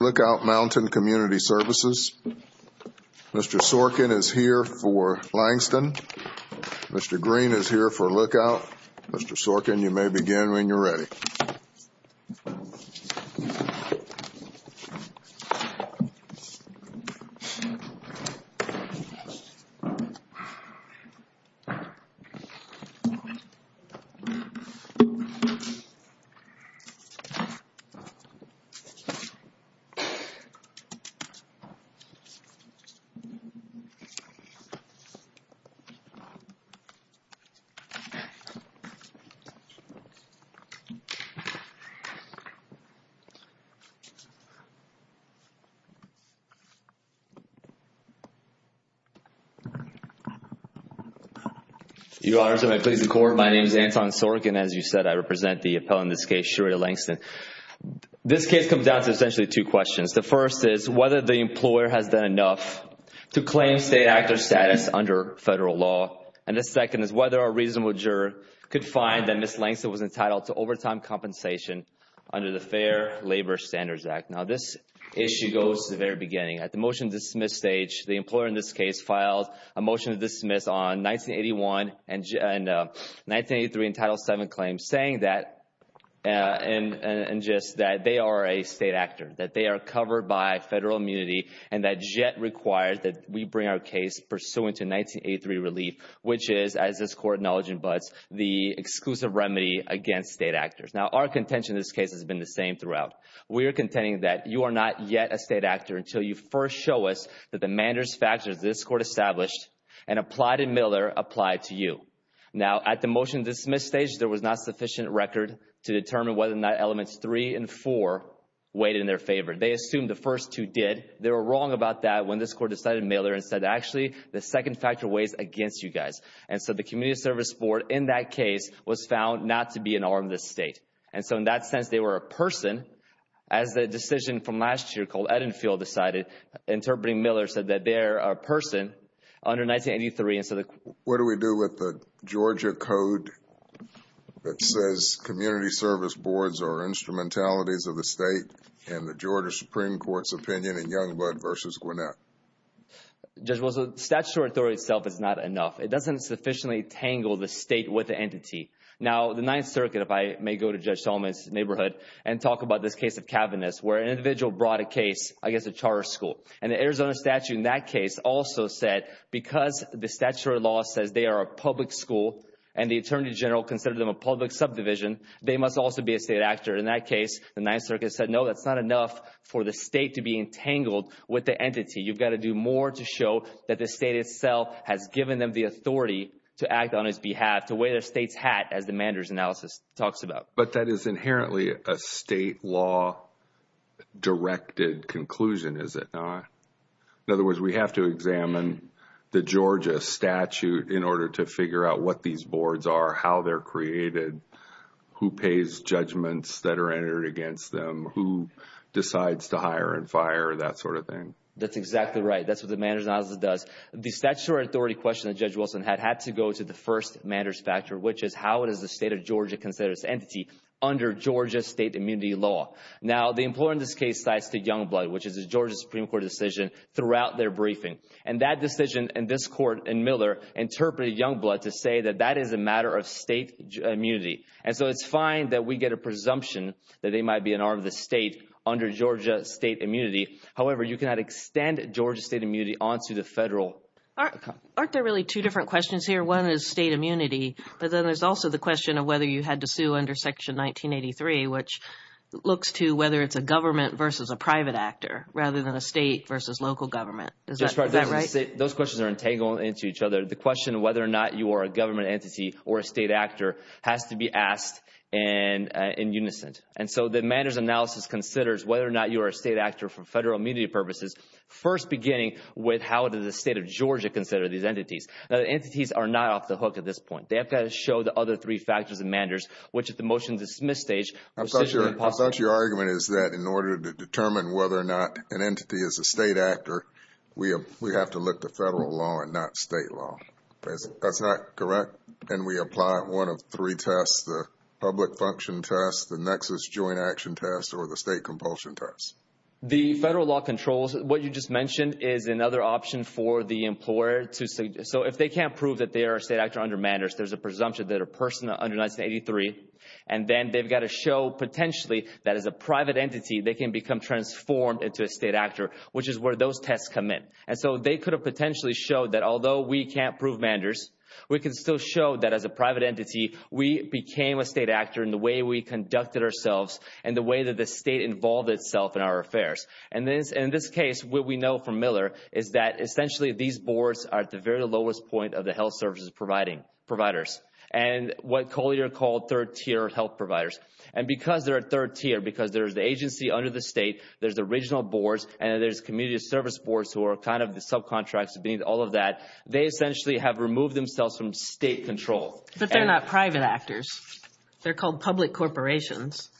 Lookout Mountain Community Services. Mr. Sorkin is here for Langston. Mr. Green is here for Lookout. Mr. Sorkin, you may begin when you're ready. You may begin when you're ready. The first is whether the employer has done enough to claim state actor status under federal law. And the second is whether a reasonable juror could find that Ms. Langston was entitled to overtime compensation under the Fair Labor Standards Act. Now, this issue goes to the very beginning. At the motion to dismiss stage, the employer in this case filed a motion to dismiss on 1981 and 1983 and Title VII claims saying that they are a state actor, that they are covered by federal immunity, and that JET requires that we bring our case pursuant to 1983 relief, which is, as this Court acknowledges in Butts, the exclusive remedy against state actors. Now, our contention in this case has been the same throughout. We are contending that you are not yet a state actor until you first show us that the manders factors this Court established and applied in Miller apply to you. Now, at the motion to dismiss stage, there was not sufficient record to determine whether or not elements three and four weighed in their favor. They assumed the first two did. They were wrong about that when this Court decided in Miller and said, actually, the second factor weighs against you guys. And so the community service board in that case was found not to be an arm of the state. And so in that sense, they were a person. As the decision from last year called Edenfield decided, interpreting Miller said that they're a person under 1983. What do we do with the Georgia code that says community service boards are instrumentalities of the state and the Georgia Supreme Court's opinion in Youngblood v. Gwinnett? Judge Wilson, statutory authority itself is not enough. It doesn't sufficiently tangle the state with the entity. Now, the Ninth Circuit, if I may go to Judge Solomon's neighborhood and talk about this case of Kavanagh's where an individual brought a case, I guess a charter school. And the Arizona statute in that case also said because the statutory law says they are a public school and the attorney general considered them a public subdivision, they must also be a state actor. In that case, the Ninth Circuit said, no, that's not enough for the state to be entangled with the entity. You've got to do more to show that the state itself has given them the authority to act on its behalf, to wear the state's hat, as the Manders analysis talks about. But that is inherently a state law directed conclusion, is it not? In other words, we have to examine the Georgia statute in order to figure out what these boards are, how they're created, who pays judgments that are entered against them, who decides to hire and fire, that sort of thing. That's exactly right. That's what the Manders analysis does. The statutory authority question that Judge Wilson had had to go to the first Manders factor, which is how does the state of Georgia consider this entity under Georgia state immunity law? Now, the employer in this case cites the Youngblood, which is a Georgia Supreme Court decision throughout their briefing. And that decision in this court in Miller interpreted Youngblood to say that that is a matter of state immunity. And so it's fine that we get a presumption that they might be an arm of the state under Georgia state immunity. However, you cannot extend Georgia state immunity onto the federal. Aren't there really two different questions here? One is state immunity. But then there's also the question of whether you had to sue under Section 1983, which looks to whether it's a government versus a private actor rather than a state versus local government. Is that right? Those questions are entangled into each other. The question of whether or not you are a government entity or a state actor has to be asked and in unison. And so the Manders analysis considers whether or not you are a state actor for federal immunity purposes, first beginning with how does the state of Georgia consider these entities? Now, the entities are not off the hook at this point. They have to show the other three factors in Manders, which at the motion-dismiss stage are essentially impossible. I thought your argument is that in order to determine whether or not an entity is a state actor, we have to look to federal law and not state law. That's not correct? And we apply one of three tests, the public function test, the nexus joint action test, or the state compulsion test. The federal law controls what you just mentioned is another option for the employer. So if they can't prove that they are a state actor under Manders, there's a presumption that a person under 1983. And then they've got to show potentially that as a private entity, they can become transformed into a state actor, which is where those tests come in. And so they could have potentially showed that although we can't prove Manders, we can still show that as a private entity, we became a state actor in the way we conducted ourselves and the way that the state involved itself in our affairs. And in this case, what we know from Miller is that essentially these boards are at the very lowest point of the health services providers and what Collier called third-tier health providers. And because they're at third-tier, because there's the agency under the state, there's the regional boards, and there's community service boards who are kind of the subcontracts of being all of that, they essentially have removed themselves from state control. But they're not private actors. They're called public corporations.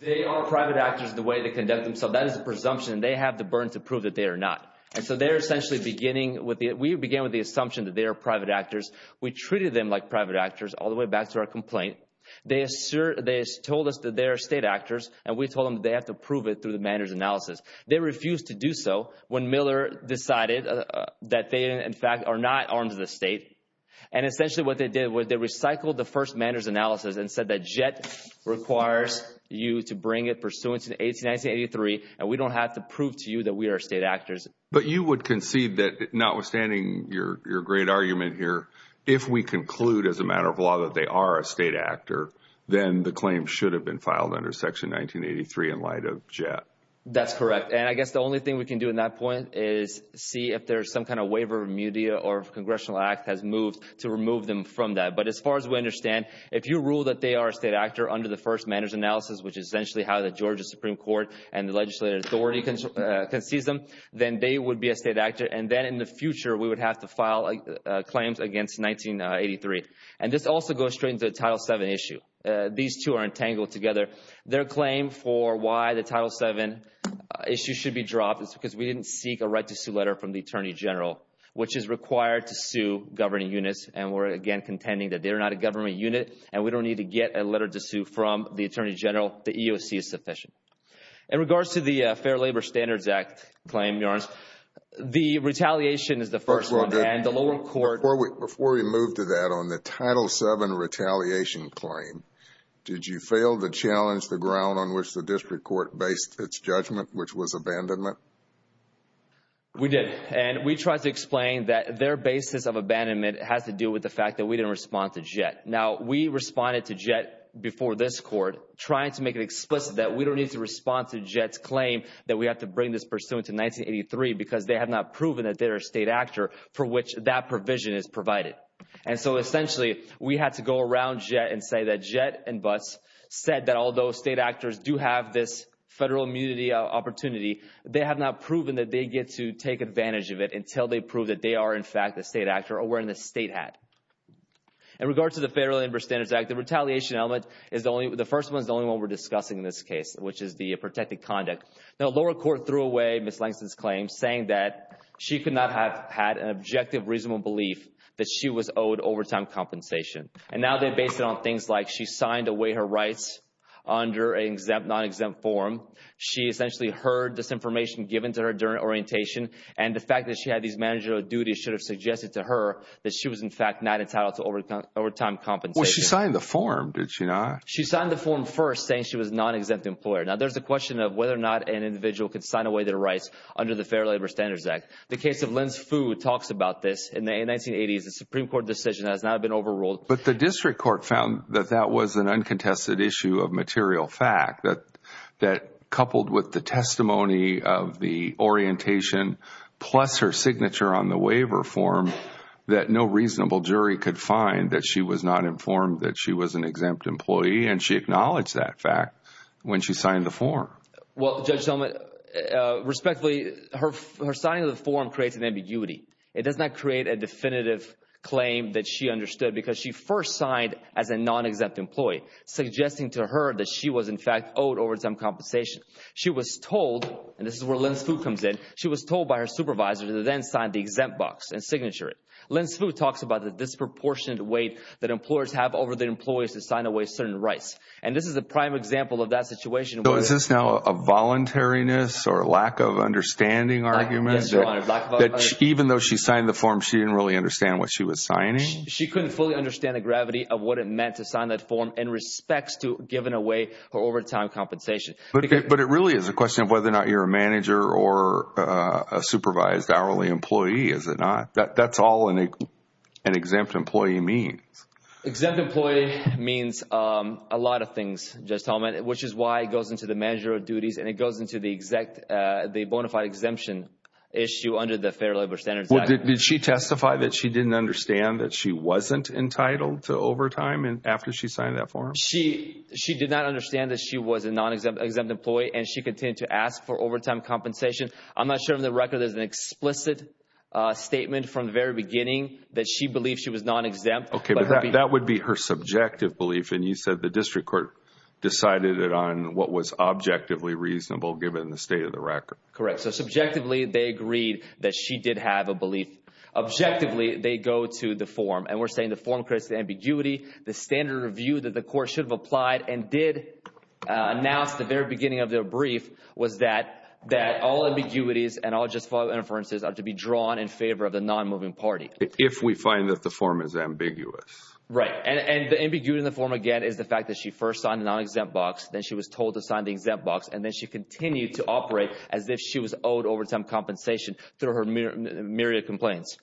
They are private actors in the way they conduct themselves. That is a presumption, and they have the burden to prove that they are not. And so they're essentially beginning with – we began with the assumption that they are private actors. We treated them like private actors all the way back to our complaint. They told us that they are state actors, and we told them that they have to prove it through the Manders analysis. They refused to do so when Miller decided that they, in fact, are not arms of the state. And essentially what they did was they recycled the first Manders analysis and said that JET requires you to bring it pursuant to 1893, and we don't have to prove to you that we are state actors. But you would concede that notwithstanding your great argument here, if we conclude as a matter of law that they are a state actor, then the claim should have been filed under Section 1983 in light of JET. That's correct, and I guess the only thing we can do in that point is see if there's some kind of waiver, remedia, or if a congressional act has moved to remove them from that. But as far as we understand, if you rule that they are a state actor under the first Manders analysis, which is essentially how the Georgia Supreme Court and the legislative authority concedes them, then they would be a state actor. And then in the future, we would have to file claims against 1983. And this also goes straight into the Title VII issue. These two are entangled together. Their claim for why the Title VII issue should be dropped is because we didn't seek a right-to-sue letter from the Attorney General, which is required to sue governing units. And we're, again, contending that they're not a governing unit, and we don't need to get a letter to sue from the Attorney General. The EOC is sufficient. In regards to the Fair Labor Standards Act claim, Your Honor, the retaliation is the first one. Before we move to that, on the Title VII retaliation claim, did you fail to challenge the ground on which the district court based its judgment, which was abandonment? We did. And we tried to explain that their basis of abandonment has to do with the fact that we didn't respond to Jett. Now, we responded to Jett before this court trying to make it explicit that we don't need to respond to Jett's claim that we have to bring this pursuant to 1983 because they have not proven that they are a state actor for which that provision is provided. And so, essentially, we had to go around Jett and say that Jett and Butts said that although state actors do have this federal immunity opportunity, they have not proven that they get to take advantage of it until they prove that they are, in fact, a state actor or wearing a state hat. In regards to the Fair Labor Standards Act, the retaliation element is the only—the first one is the only one we're discussing in this case, which is the protected conduct. Now, lower court threw away Ms. Langston's claim saying that she could not have had an objective, reasonable belief that she was owed overtime compensation. And now they're based it on things like she signed away her rights under an exempt, non-exempt form. She essentially heard this information given to her during orientation. And the fact that she had these managerial duties should have suggested to her that she was, in fact, not entitled to overtime compensation. Well, she signed the form, did she not? She signed the form first saying she was a non-exempt employer. Now, there's a question of whether or not an individual could sign away their rights under the Fair Labor Standards Act. The case of Linz Fu talks about this. In the 1980s, a Supreme Court decision that has not been overruled. But the district court found that that was an uncontested issue of material fact, that coupled with the testimony of the orientation plus her signature on the waiver form, that no reasonable jury could find that she was not informed that she was an exempt employee. And she acknowledged that fact when she signed the form. Well, Judge Zellman, respectfully, her signing of the form creates an ambiguity. It does not create a definitive claim that she understood because she first signed as a non-exempt employee, suggesting to her that she was, in fact, owed overtime compensation. She was told, and this is where Linz Fu comes in, she was told by her supervisor to then sign the exempt box and signature it. Linz Fu talks about the disproportionate weight that employers have over their employees to sign away certain rights. And this is a prime example of that situation. So is this now a voluntariness or lack of understanding argument? Yes, Your Honor. Even though she signed the form, she didn't really understand what she was signing? She couldn't fully understand the gravity of what it meant to sign that form in respects to giving away her overtime compensation. But it really is a question of whether or not you're a manager or a supervised hourly employee, is it not? That's all an exempt employee means. Exempt employee means a lot of things, Judge Zellman, which is why it goes into the managerial duties and it goes into the bona fide exemption issue under the Fair Labor Standards Act. Did she testify that she didn't understand that she wasn't entitled to overtime after she signed that form? She did not understand that she was a non-exempt employee and she continued to ask for overtime compensation. I'm not sure of the record. There's an explicit statement from the very beginning that she believed she was non-exempt. Okay, but that would be her subjective belief and you said the district court decided it on what was objectively reasonable given the state of the record. Correct. So subjectively, they agreed that she did have a belief. Objectively, they go to the form and we're saying the form creates the ambiguity. The standard of view that the court should have applied and did announce at the very beginning of their brief was that all ambiguities and all just follow inferences are to be drawn in favor of the non-moving party. If we find that the form is ambiguous. Right, and the ambiguity in the form, again, is the fact that she first signed the non-exempt box, then she was told to sign the exempt box, and then she continued to operate as if she was owed overtime compensation through her myriad of complaints.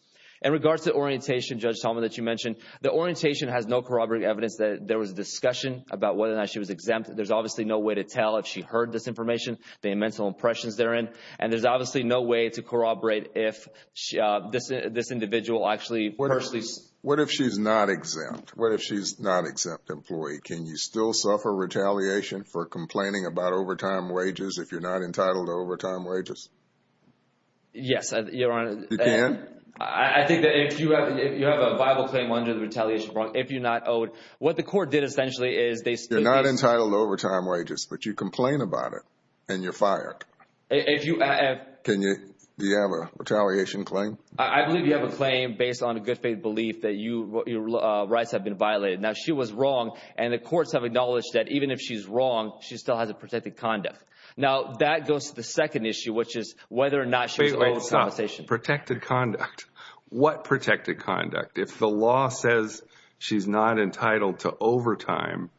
In regards to orientation, Judge Zellman, that you mentioned, the orientation has no corroborating evidence that there was a discussion about whether or not she was exempt. There's obviously no way to tell if she heard this information, the mental impressions therein, and there's obviously no way to corroborate if this individual actually personally. What if she's not exempt? What if she's not an exempt employee? Can you still suffer retaliation for complaining about overtime wages if you're not entitled to overtime wages? Yes, Your Honor. You can? I think that if you have a viable claim under the retaliation if you're not owed, what the court did essentially is they stated this. You're not entitled to overtime wages, but you complain about it and you're fired. If you have. Do you have a retaliation claim? I believe you have a claim based on a good faith belief that your rights have been violated. Now, she was wrong, and the courts have acknowledged that even if she's wrong, she still has a protected conduct. Now, that goes to the second issue, which is whether or not she was owed compensation. Wait, stop. Protected conduct. What protected conduct? If the law says she's not entitled to overtime,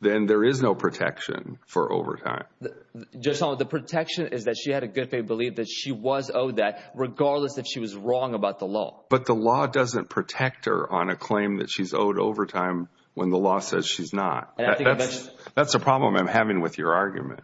then there is no protection for overtime. Judge Solomon, the protection is that she had a good faith belief that she was owed that, regardless that she was wrong about the law. But the law doesn't protect her on a claim that she's owed overtime when the law says she's not. That's a problem I'm having with your argument.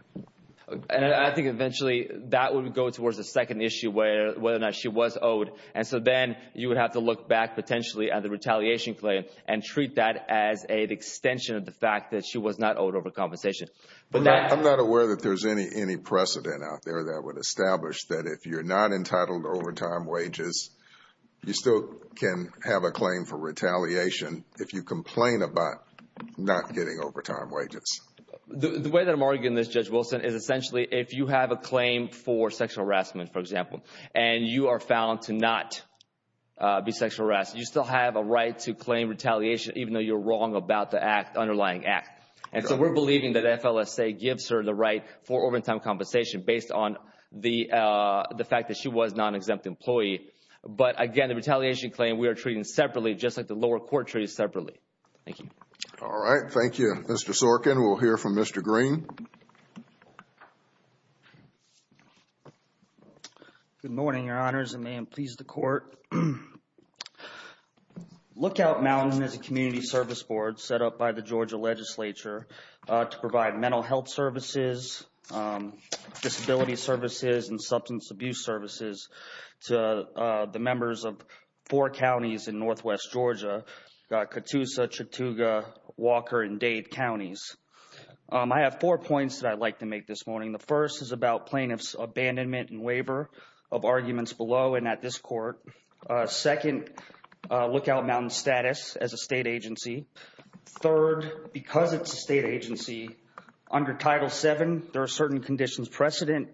And I think eventually that would go towards the second issue, whether or not she was owed. And so then you would have to look back potentially at the retaliation claim and treat that as an extension of the fact that she was not owed overcompensation. I'm not aware that there's any precedent out there that would establish that if you're not entitled to overtime wages, you still can have a claim for retaliation if you complain about not getting overtime wages. The way that I'm arguing this, Judge Wilson, is essentially if you have a claim for sexual harassment, for example, and you are found to not be sexually harassed, you still have a right to claim retaliation even though you're wrong about the underlying act. And so we're believing that FLSA gives her the right for overtime compensation based on the fact that she was a non-exempt employee. But, again, the retaliation claim we are treating separately, just like the lower court treats separately. Thank you. All right. Thank you. Mr. Sorkin, we'll hear from Mr. Green. Good morning, Your Honors, and may it please the Court. Lookout Mountain is a community service board set up by the Georgia Legislature to provide mental health services, disability services, and substance abuse services to the members of four counties in northwest Georgia, Catoosa, Chattooga, Walker, and Dade counties. I have four points that I'd like to make this morning. The first is about plaintiff's abandonment and waiver of arguments below and at this court. Second, Lookout Mountain's status as a state agency. Third, because it's a state agency, under Title VII, there are certain conditions precedent,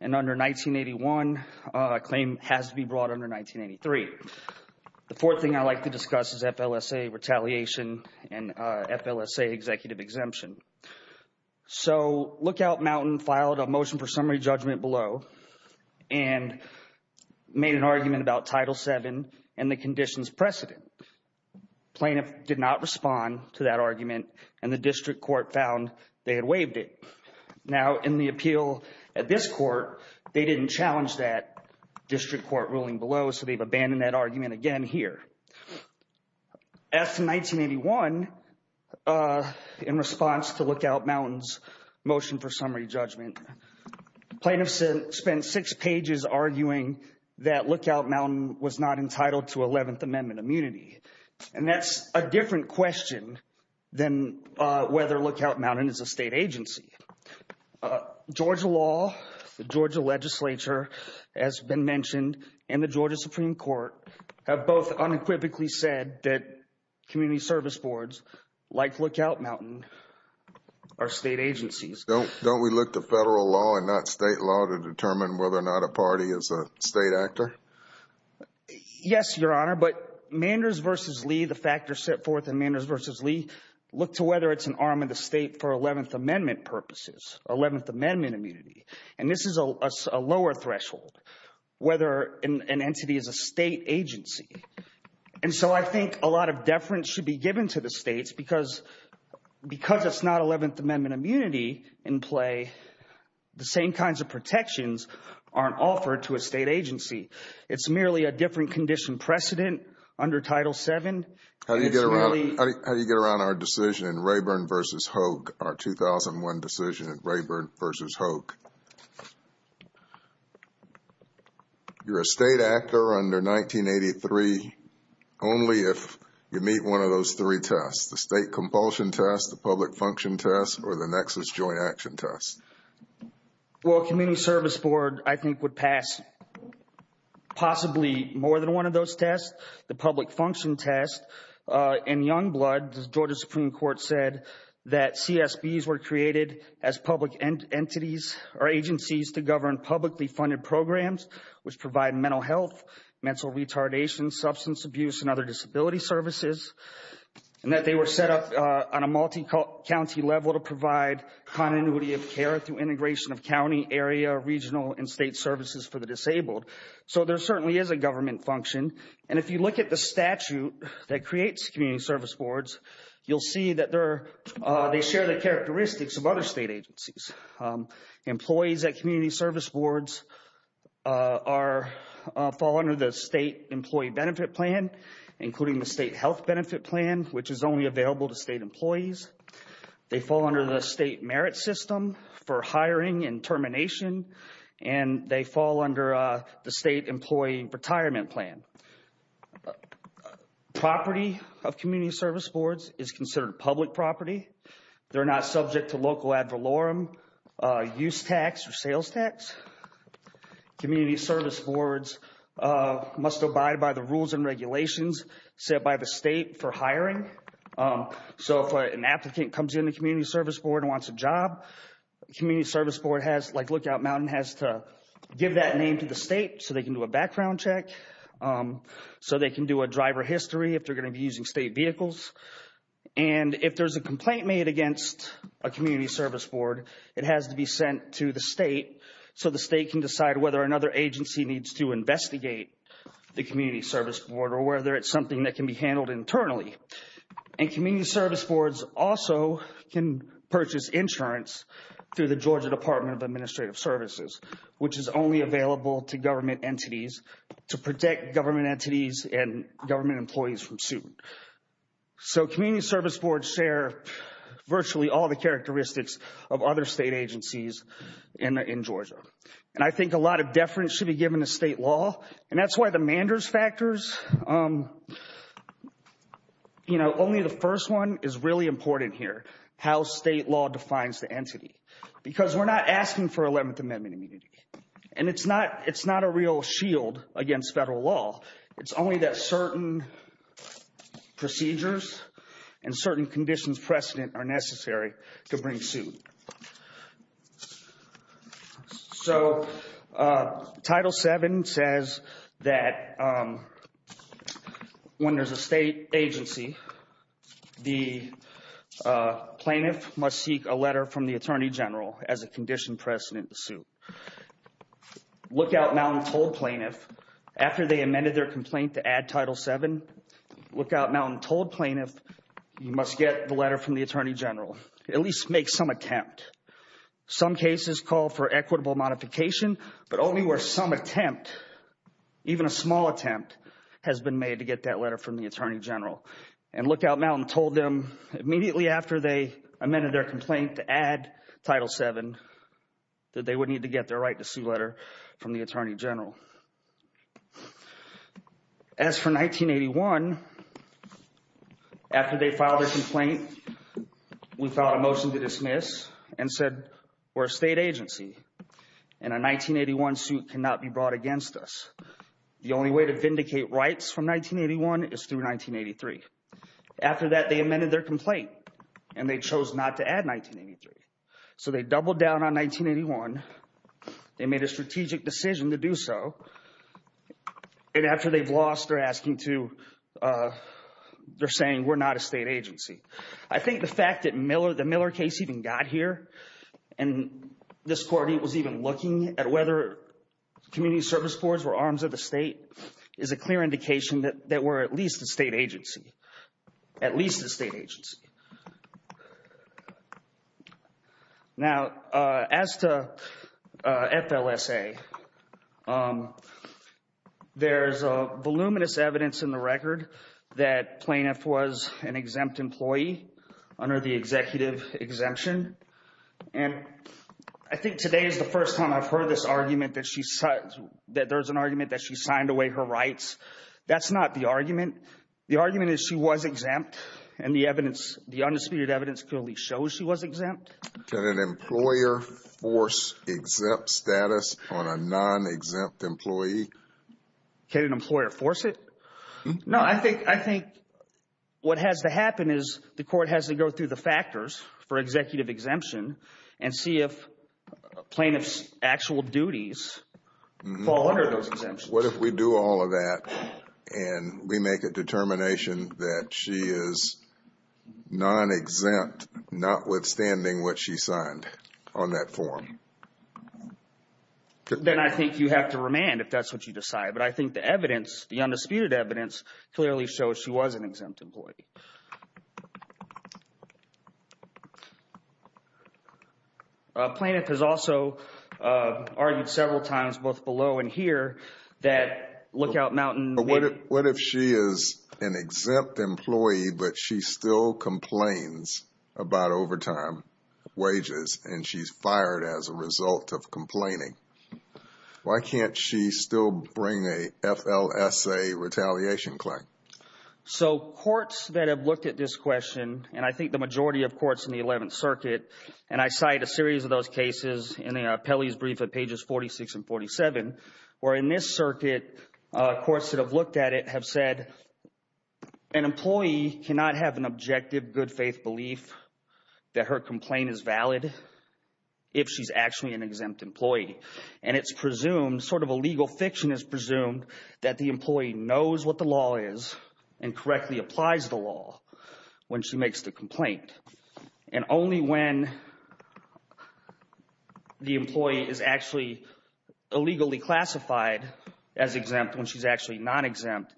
and under 1981, a claim has to be brought under 1983. The fourth thing I'd like to discuss is FLSA retaliation and FLSA executive exemption. So Lookout Mountain filed a motion for summary judgment below and made an argument about Title VII and the conditions precedent. Plaintiff did not respond to that argument, and the district court found they had waived it. Now, in the appeal at this court, they didn't challenge that district court ruling below, so they've abandoned that argument again here. As to 1981, in response to Lookout Mountain's motion for summary judgment, plaintiffs spent six pages arguing that Lookout Mountain was not entitled to 11th Amendment immunity, and that's a different question than whether Lookout Mountain is a state agency. Georgia law, the Georgia legislature, as been mentioned, and the Georgia Supreme Court, have both unequivocally said that community service boards, like Lookout Mountain, are state agencies. Don't we look to federal law and not state law to determine whether or not a party is a state actor? Yes, Your Honor, but Manders v. Lee, the factors set forth in Manders v. Lee, look to whether it's an arm of the state for 11th Amendment purposes, 11th Amendment immunity, and this is a lower threshold, whether an entity is a state agency. And so I think a lot of deference should be given to the states because it's not 11th Amendment immunity in play. The same kinds of protections aren't offered to a state agency. It's merely a different condition precedent under Title VII. How do you get around our decision in Rayburn v. Hogue, our 2001 decision in Rayburn v. Hogue? You're a state actor under 1983 only if you meet one of those three tests, the state compulsion test, the public function test, or the nexus joint action test. Well, a community service board, I think, would pass possibly more than one of those tests, the public function test. In Youngblood, the Georgia Supreme Court said that CSBs were created as public entities or agencies to govern publicly funded programs which provide mental health, mental retardation, substance abuse, and other disability services, and that they were set up on a multi-county level to provide continuity of care through integration of county, area, regional, and state services for the disabled. So there certainly is a government function, and if you look at the statute that creates community service boards, you'll see that they share the characteristics of other state agencies. Employees at community service boards fall under the state employee benefit plan, including the state health benefit plan, which is only available to state employees. They fall under the state merit system for hiring and termination, and they fall under the state employee retirement plan. Property of community service boards is considered public property. They're not subject to local ad valorem, use tax, or sales tax. Community service boards must abide by the rules and regulations set by the state for hiring. So if an applicant comes into a community service board and wants a job, community service board, like Lookout Mountain, has to give that name to the state so they can do a background check, so they can do a driver history if they're going to be using state vehicles. And if there's a complaint made against a community service board, it has to be sent to the state so the state can decide whether another agency needs to investigate the community service board or whether it's something that can be handled internally. And community service boards also can purchase insurance through the Georgia Department of Administrative Services, which is only available to government entities to protect government entities and government employees from suit. So community service boards share virtually all the characteristics of other state agencies in Georgia. And I think a lot of deference should be given to state law, and that's why the Manders factors, you know, only the first one is really important here, how state law defines the entity. Because we're not asking for 11th Amendment immunity. And it's not a real shield against federal law. It's only that certain procedures and certain conditions precedent are necessary to bring suit. So Title VII says that when there's a state agency, the plaintiff must seek a letter from the attorney general as a condition precedent to suit. Lookout Mountain told plaintiff after they amended their complaint to add Title VII, Lookout Mountain told plaintiff you must get the letter from the attorney general. At least make some attempt. Some cases call for equitable modification, but only where some attempt, even a small attempt, has been made to get that letter from the attorney general. And Lookout Mountain told them immediately after they amended their complaint to add Title VII that they would need to get their right to sue letter from the attorney general. As for 1981, after they filed their complaint, we filed a motion to dismiss and said we're a state agency and a 1981 suit cannot be brought against us. The only way to vindicate rights from 1981 is through 1983. After that, they amended their complaint and they chose not to add 1983. So they doubled down on 1981. They made a strategic decision to do so. And after they've lost, they're saying we're not a state agency. I think the fact that the Miller case even got here and this court was even looking at whether community service boards were arms of the state is a clear indication that we're at least a state agency. At least a state agency. Now, as to FLSA, there's voluminous evidence in the record that Plaintiff was an exempt employee under the executive exemption. And I think today is the first time I've heard this argument that there's an argument that she signed away her rights. The argument is she was exempt and the undisputed evidence clearly shows she was exempt. Can an employer force exempt status on a non-exempt employee? Can an employer force it? No, I think what has to happen is the court has to go through the factors for executive exemption and see if Plaintiff's actual duties fall under those exemptions. What if we do all of that and we make a determination that she is non-exempt, notwithstanding what she signed on that form? Then I think you have to remand if that's what you decide. But I think the evidence, the undisputed evidence, clearly shows she was an exempt employee. Plaintiff has also argued several times, both below and here, that Lookout Mountain... What if she is an exempt employee, but she still complains about overtime wages and she's fired as a result of complaining? Why can't she still bring a FLSA retaliation claim? So courts that have looked at this question, and I think the majority of courts in the Eleventh Circuit, and I cite a series of those cases in Pelley's brief at pages 46 and 47, where in this circuit, courts that have looked at it have said an employee cannot have an objective, good-faith belief that her complaint is valid if she's actually an exempt employee. And it's presumed, sort of a legal fiction is presumed, that the employee knows what the law is and correctly applies the law when she makes the complaint. And only when the employee is actually illegally classified as exempt, when she's actually non-exempt,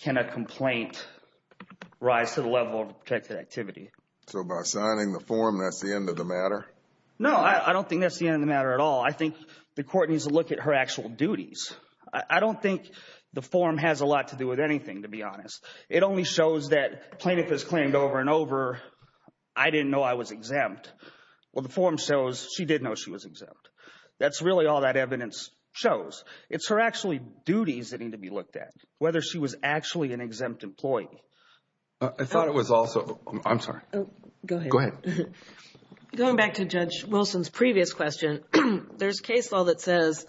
can a complaint rise to the level of protected activity. So by signing the form, that's the end of the matter? No, I don't think that's the end of the matter at all. I think the court needs to look at her actual duties. I don't think the form has a lot to do with anything, to be honest. It only shows that plaintiff has claimed over and over, I didn't know I was exempt. Well, the form shows she did know she was exempt. That's really all that evidence shows. It's her actual duties that need to be looked at, whether she was actually an exempt employee. I thought it was also – I'm sorry. Go ahead. Going back to Judge Wilson's previous question, there's case law that says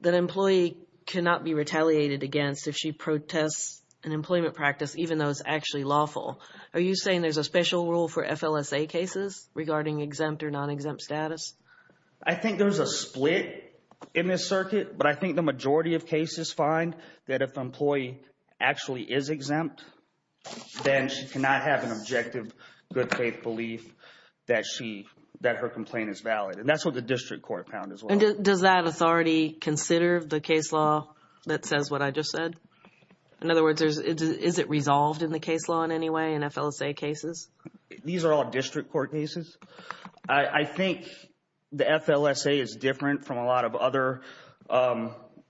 that an employee cannot be retaliated against if she protests an employment practice even though it's actually lawful. Are you saying there's a special rule for FLSA cases regarding exempt or non-exempt status? I think there's a split in this circuit, but I think the majority of cases find that if an employee actually is exempt, then she cannot have an objective good faith belief that her complaint is valid, and that's what the district court found as well. Does that authority consider the case law that says what I just said? In other words, is it resolved in the case law in any way in FLSA cases? These are all district court cases. I think the FLSA is different from a lot of other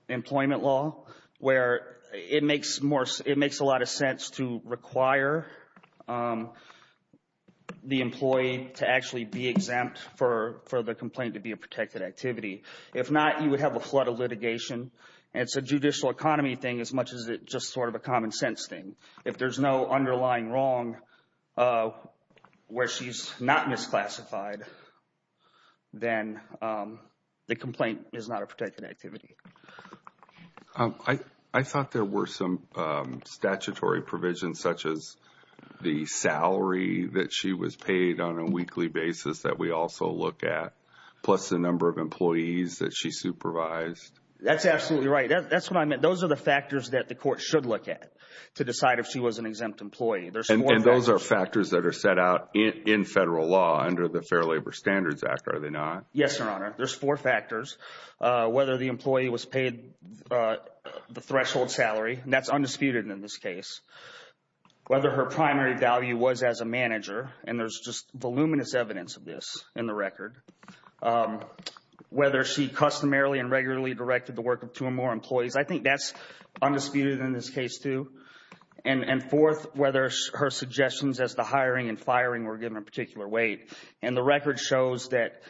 employment law where it makes a lot of sense to require the employee to actually be exempt for the complaint to be a protected activity. If not, you would have a flood of litigation, and it's a judicial economy thing as much as it's just sort of a common sense thing. If there's no underlying wrong where she's not misclassified, then the complaint is not a protected activity. I thought there were some statutory provisions such as the salary that she was paid on a weekly basis that we also look at plus the number of employees that she supervised. That's absolutely right. That's what I meant. Those are the factors that the court should look at to decide if she was an exempt employee. And those are factors that are set out in federal law under the Fair Labor Standards Act, are they not? Yes, Your Honor. There's four factors, whether the employee was paid the threshold salary, and that's undisputed in this case, whether her primary value was as a manager, and there's just voluminous evidence of this in the record, whether she customarily and regularly directed the work of two or more employees. I think that's undisputed in this case, too. And fourth, whether her suggestions as to hiring and firing were given a particular weight. And the record shows that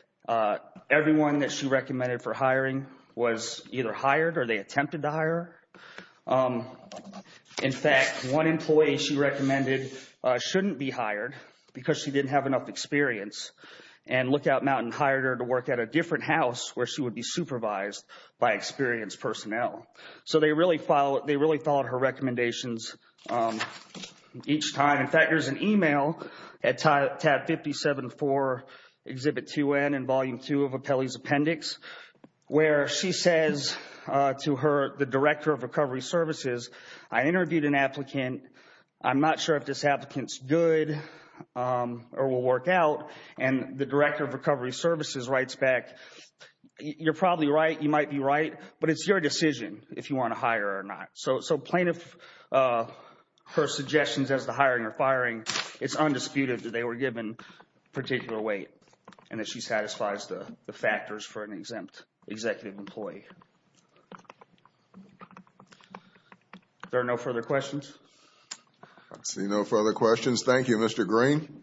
everyone that she recommended for hiring was either hired or they attempted to hire. In fact, one employee she recommended shouldn't be hired because she didn't have enough experience, and Lookout Mountain hired her to work at a different house where she would be supervised by experienced personnel. So they really followed her recommendations each time. In fact, there's an email at tab 57-4, Exhibit 2N in Volume 2 of Appellee's Appendix, where she says to the Director of Recovery Services, I interviewed an applicant, I'm not sure if this applicant's good or will work out, and the Director of Recovery Services writes back, you're probably right, you might be right, but it's your decision if you want to hire or not. So plaintiff, her suggestions as to hiring or firing, it's undisputed that they were given particular weight and that she satisfies the factors for an exempt executive employee. There are no further questions? I see no further questions. Thank you, Mr. Green.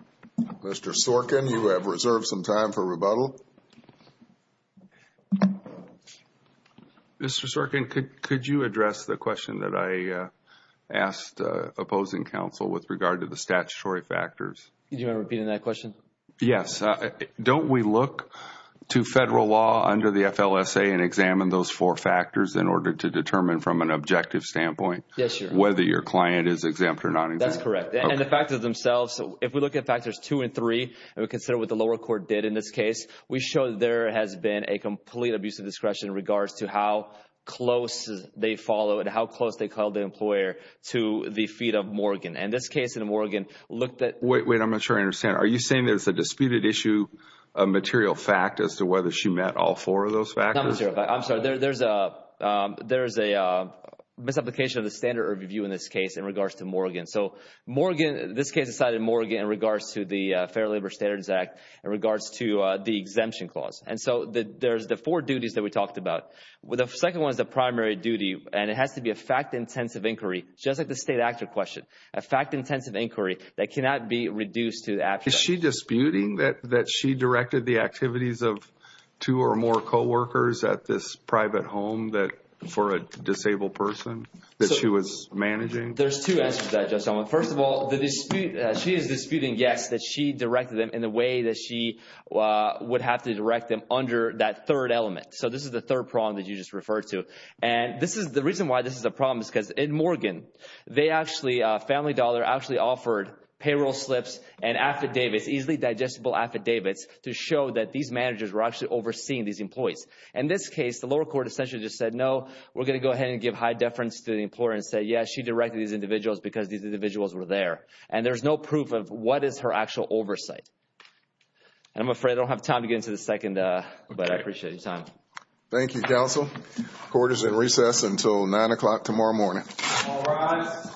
Mr. Sorkin, you have reserved some time for rebuttal. Mr. Sorkin, could you address the question that I asked opposing counsel with regard to the statutory factors? Do you want to repeat that question? Yes. Don't we look to federal law under the FLSA and examine those four factors in order to determine from an objective standpoint whether your client is exempt or not exempt? That's correct. And the factors themselves, if we look at factors two and three, and we consider what the lower court did in this case, we show there has been a complete abuse of discretion in regards to how close they followed, how close they called the employer to the feet of Morgan. And this case in Morgan looked at… Wait, wait, I'm not sure I understand. Are you saying there's a disputed issue of material fact as to whether she met all four of those factors? I'm sorry. There's a misapplication of the standard of review in this case in regards to Morgan. So this case is cited in Morgan in regards to the Fair Labor Standards Act in regards to the exemption clause. And so there's the four duties that we talked about. The second one is the primary duty, and it has to be a fact-intensive inquiry, just like the state actor question, a fact-intensive inquiry that cannot be reduced to abstract. Is she disputing that she directed the activities of two or more coworkers at this private home for a disabled person that she was managing? There's two answers to that, Judge Solomon. First of all, she is disputing, yes, that she directed them in the way that she would have to direct them under that third element. So this is the third problem that you just referred to. And the reason why this is a problem is because in Morgan, they actually, Family Dollar actually offered payroll slips and affidavits, easily digestible affidavits, to show that these managers were actually overseeing these employees. In this case, the lower court essentially just said, no, we're going to go ahead and give high deference to the employer and say, yes, she directed these individuals because these individuals were there. And there's no proof of what is her actual oversight. And I'm afraid I don't have time to get into the second, but I appreciate your time. Thank you, counsel. Court is in recess until 9 o'clock tomorrow morning. All rise. Thank you.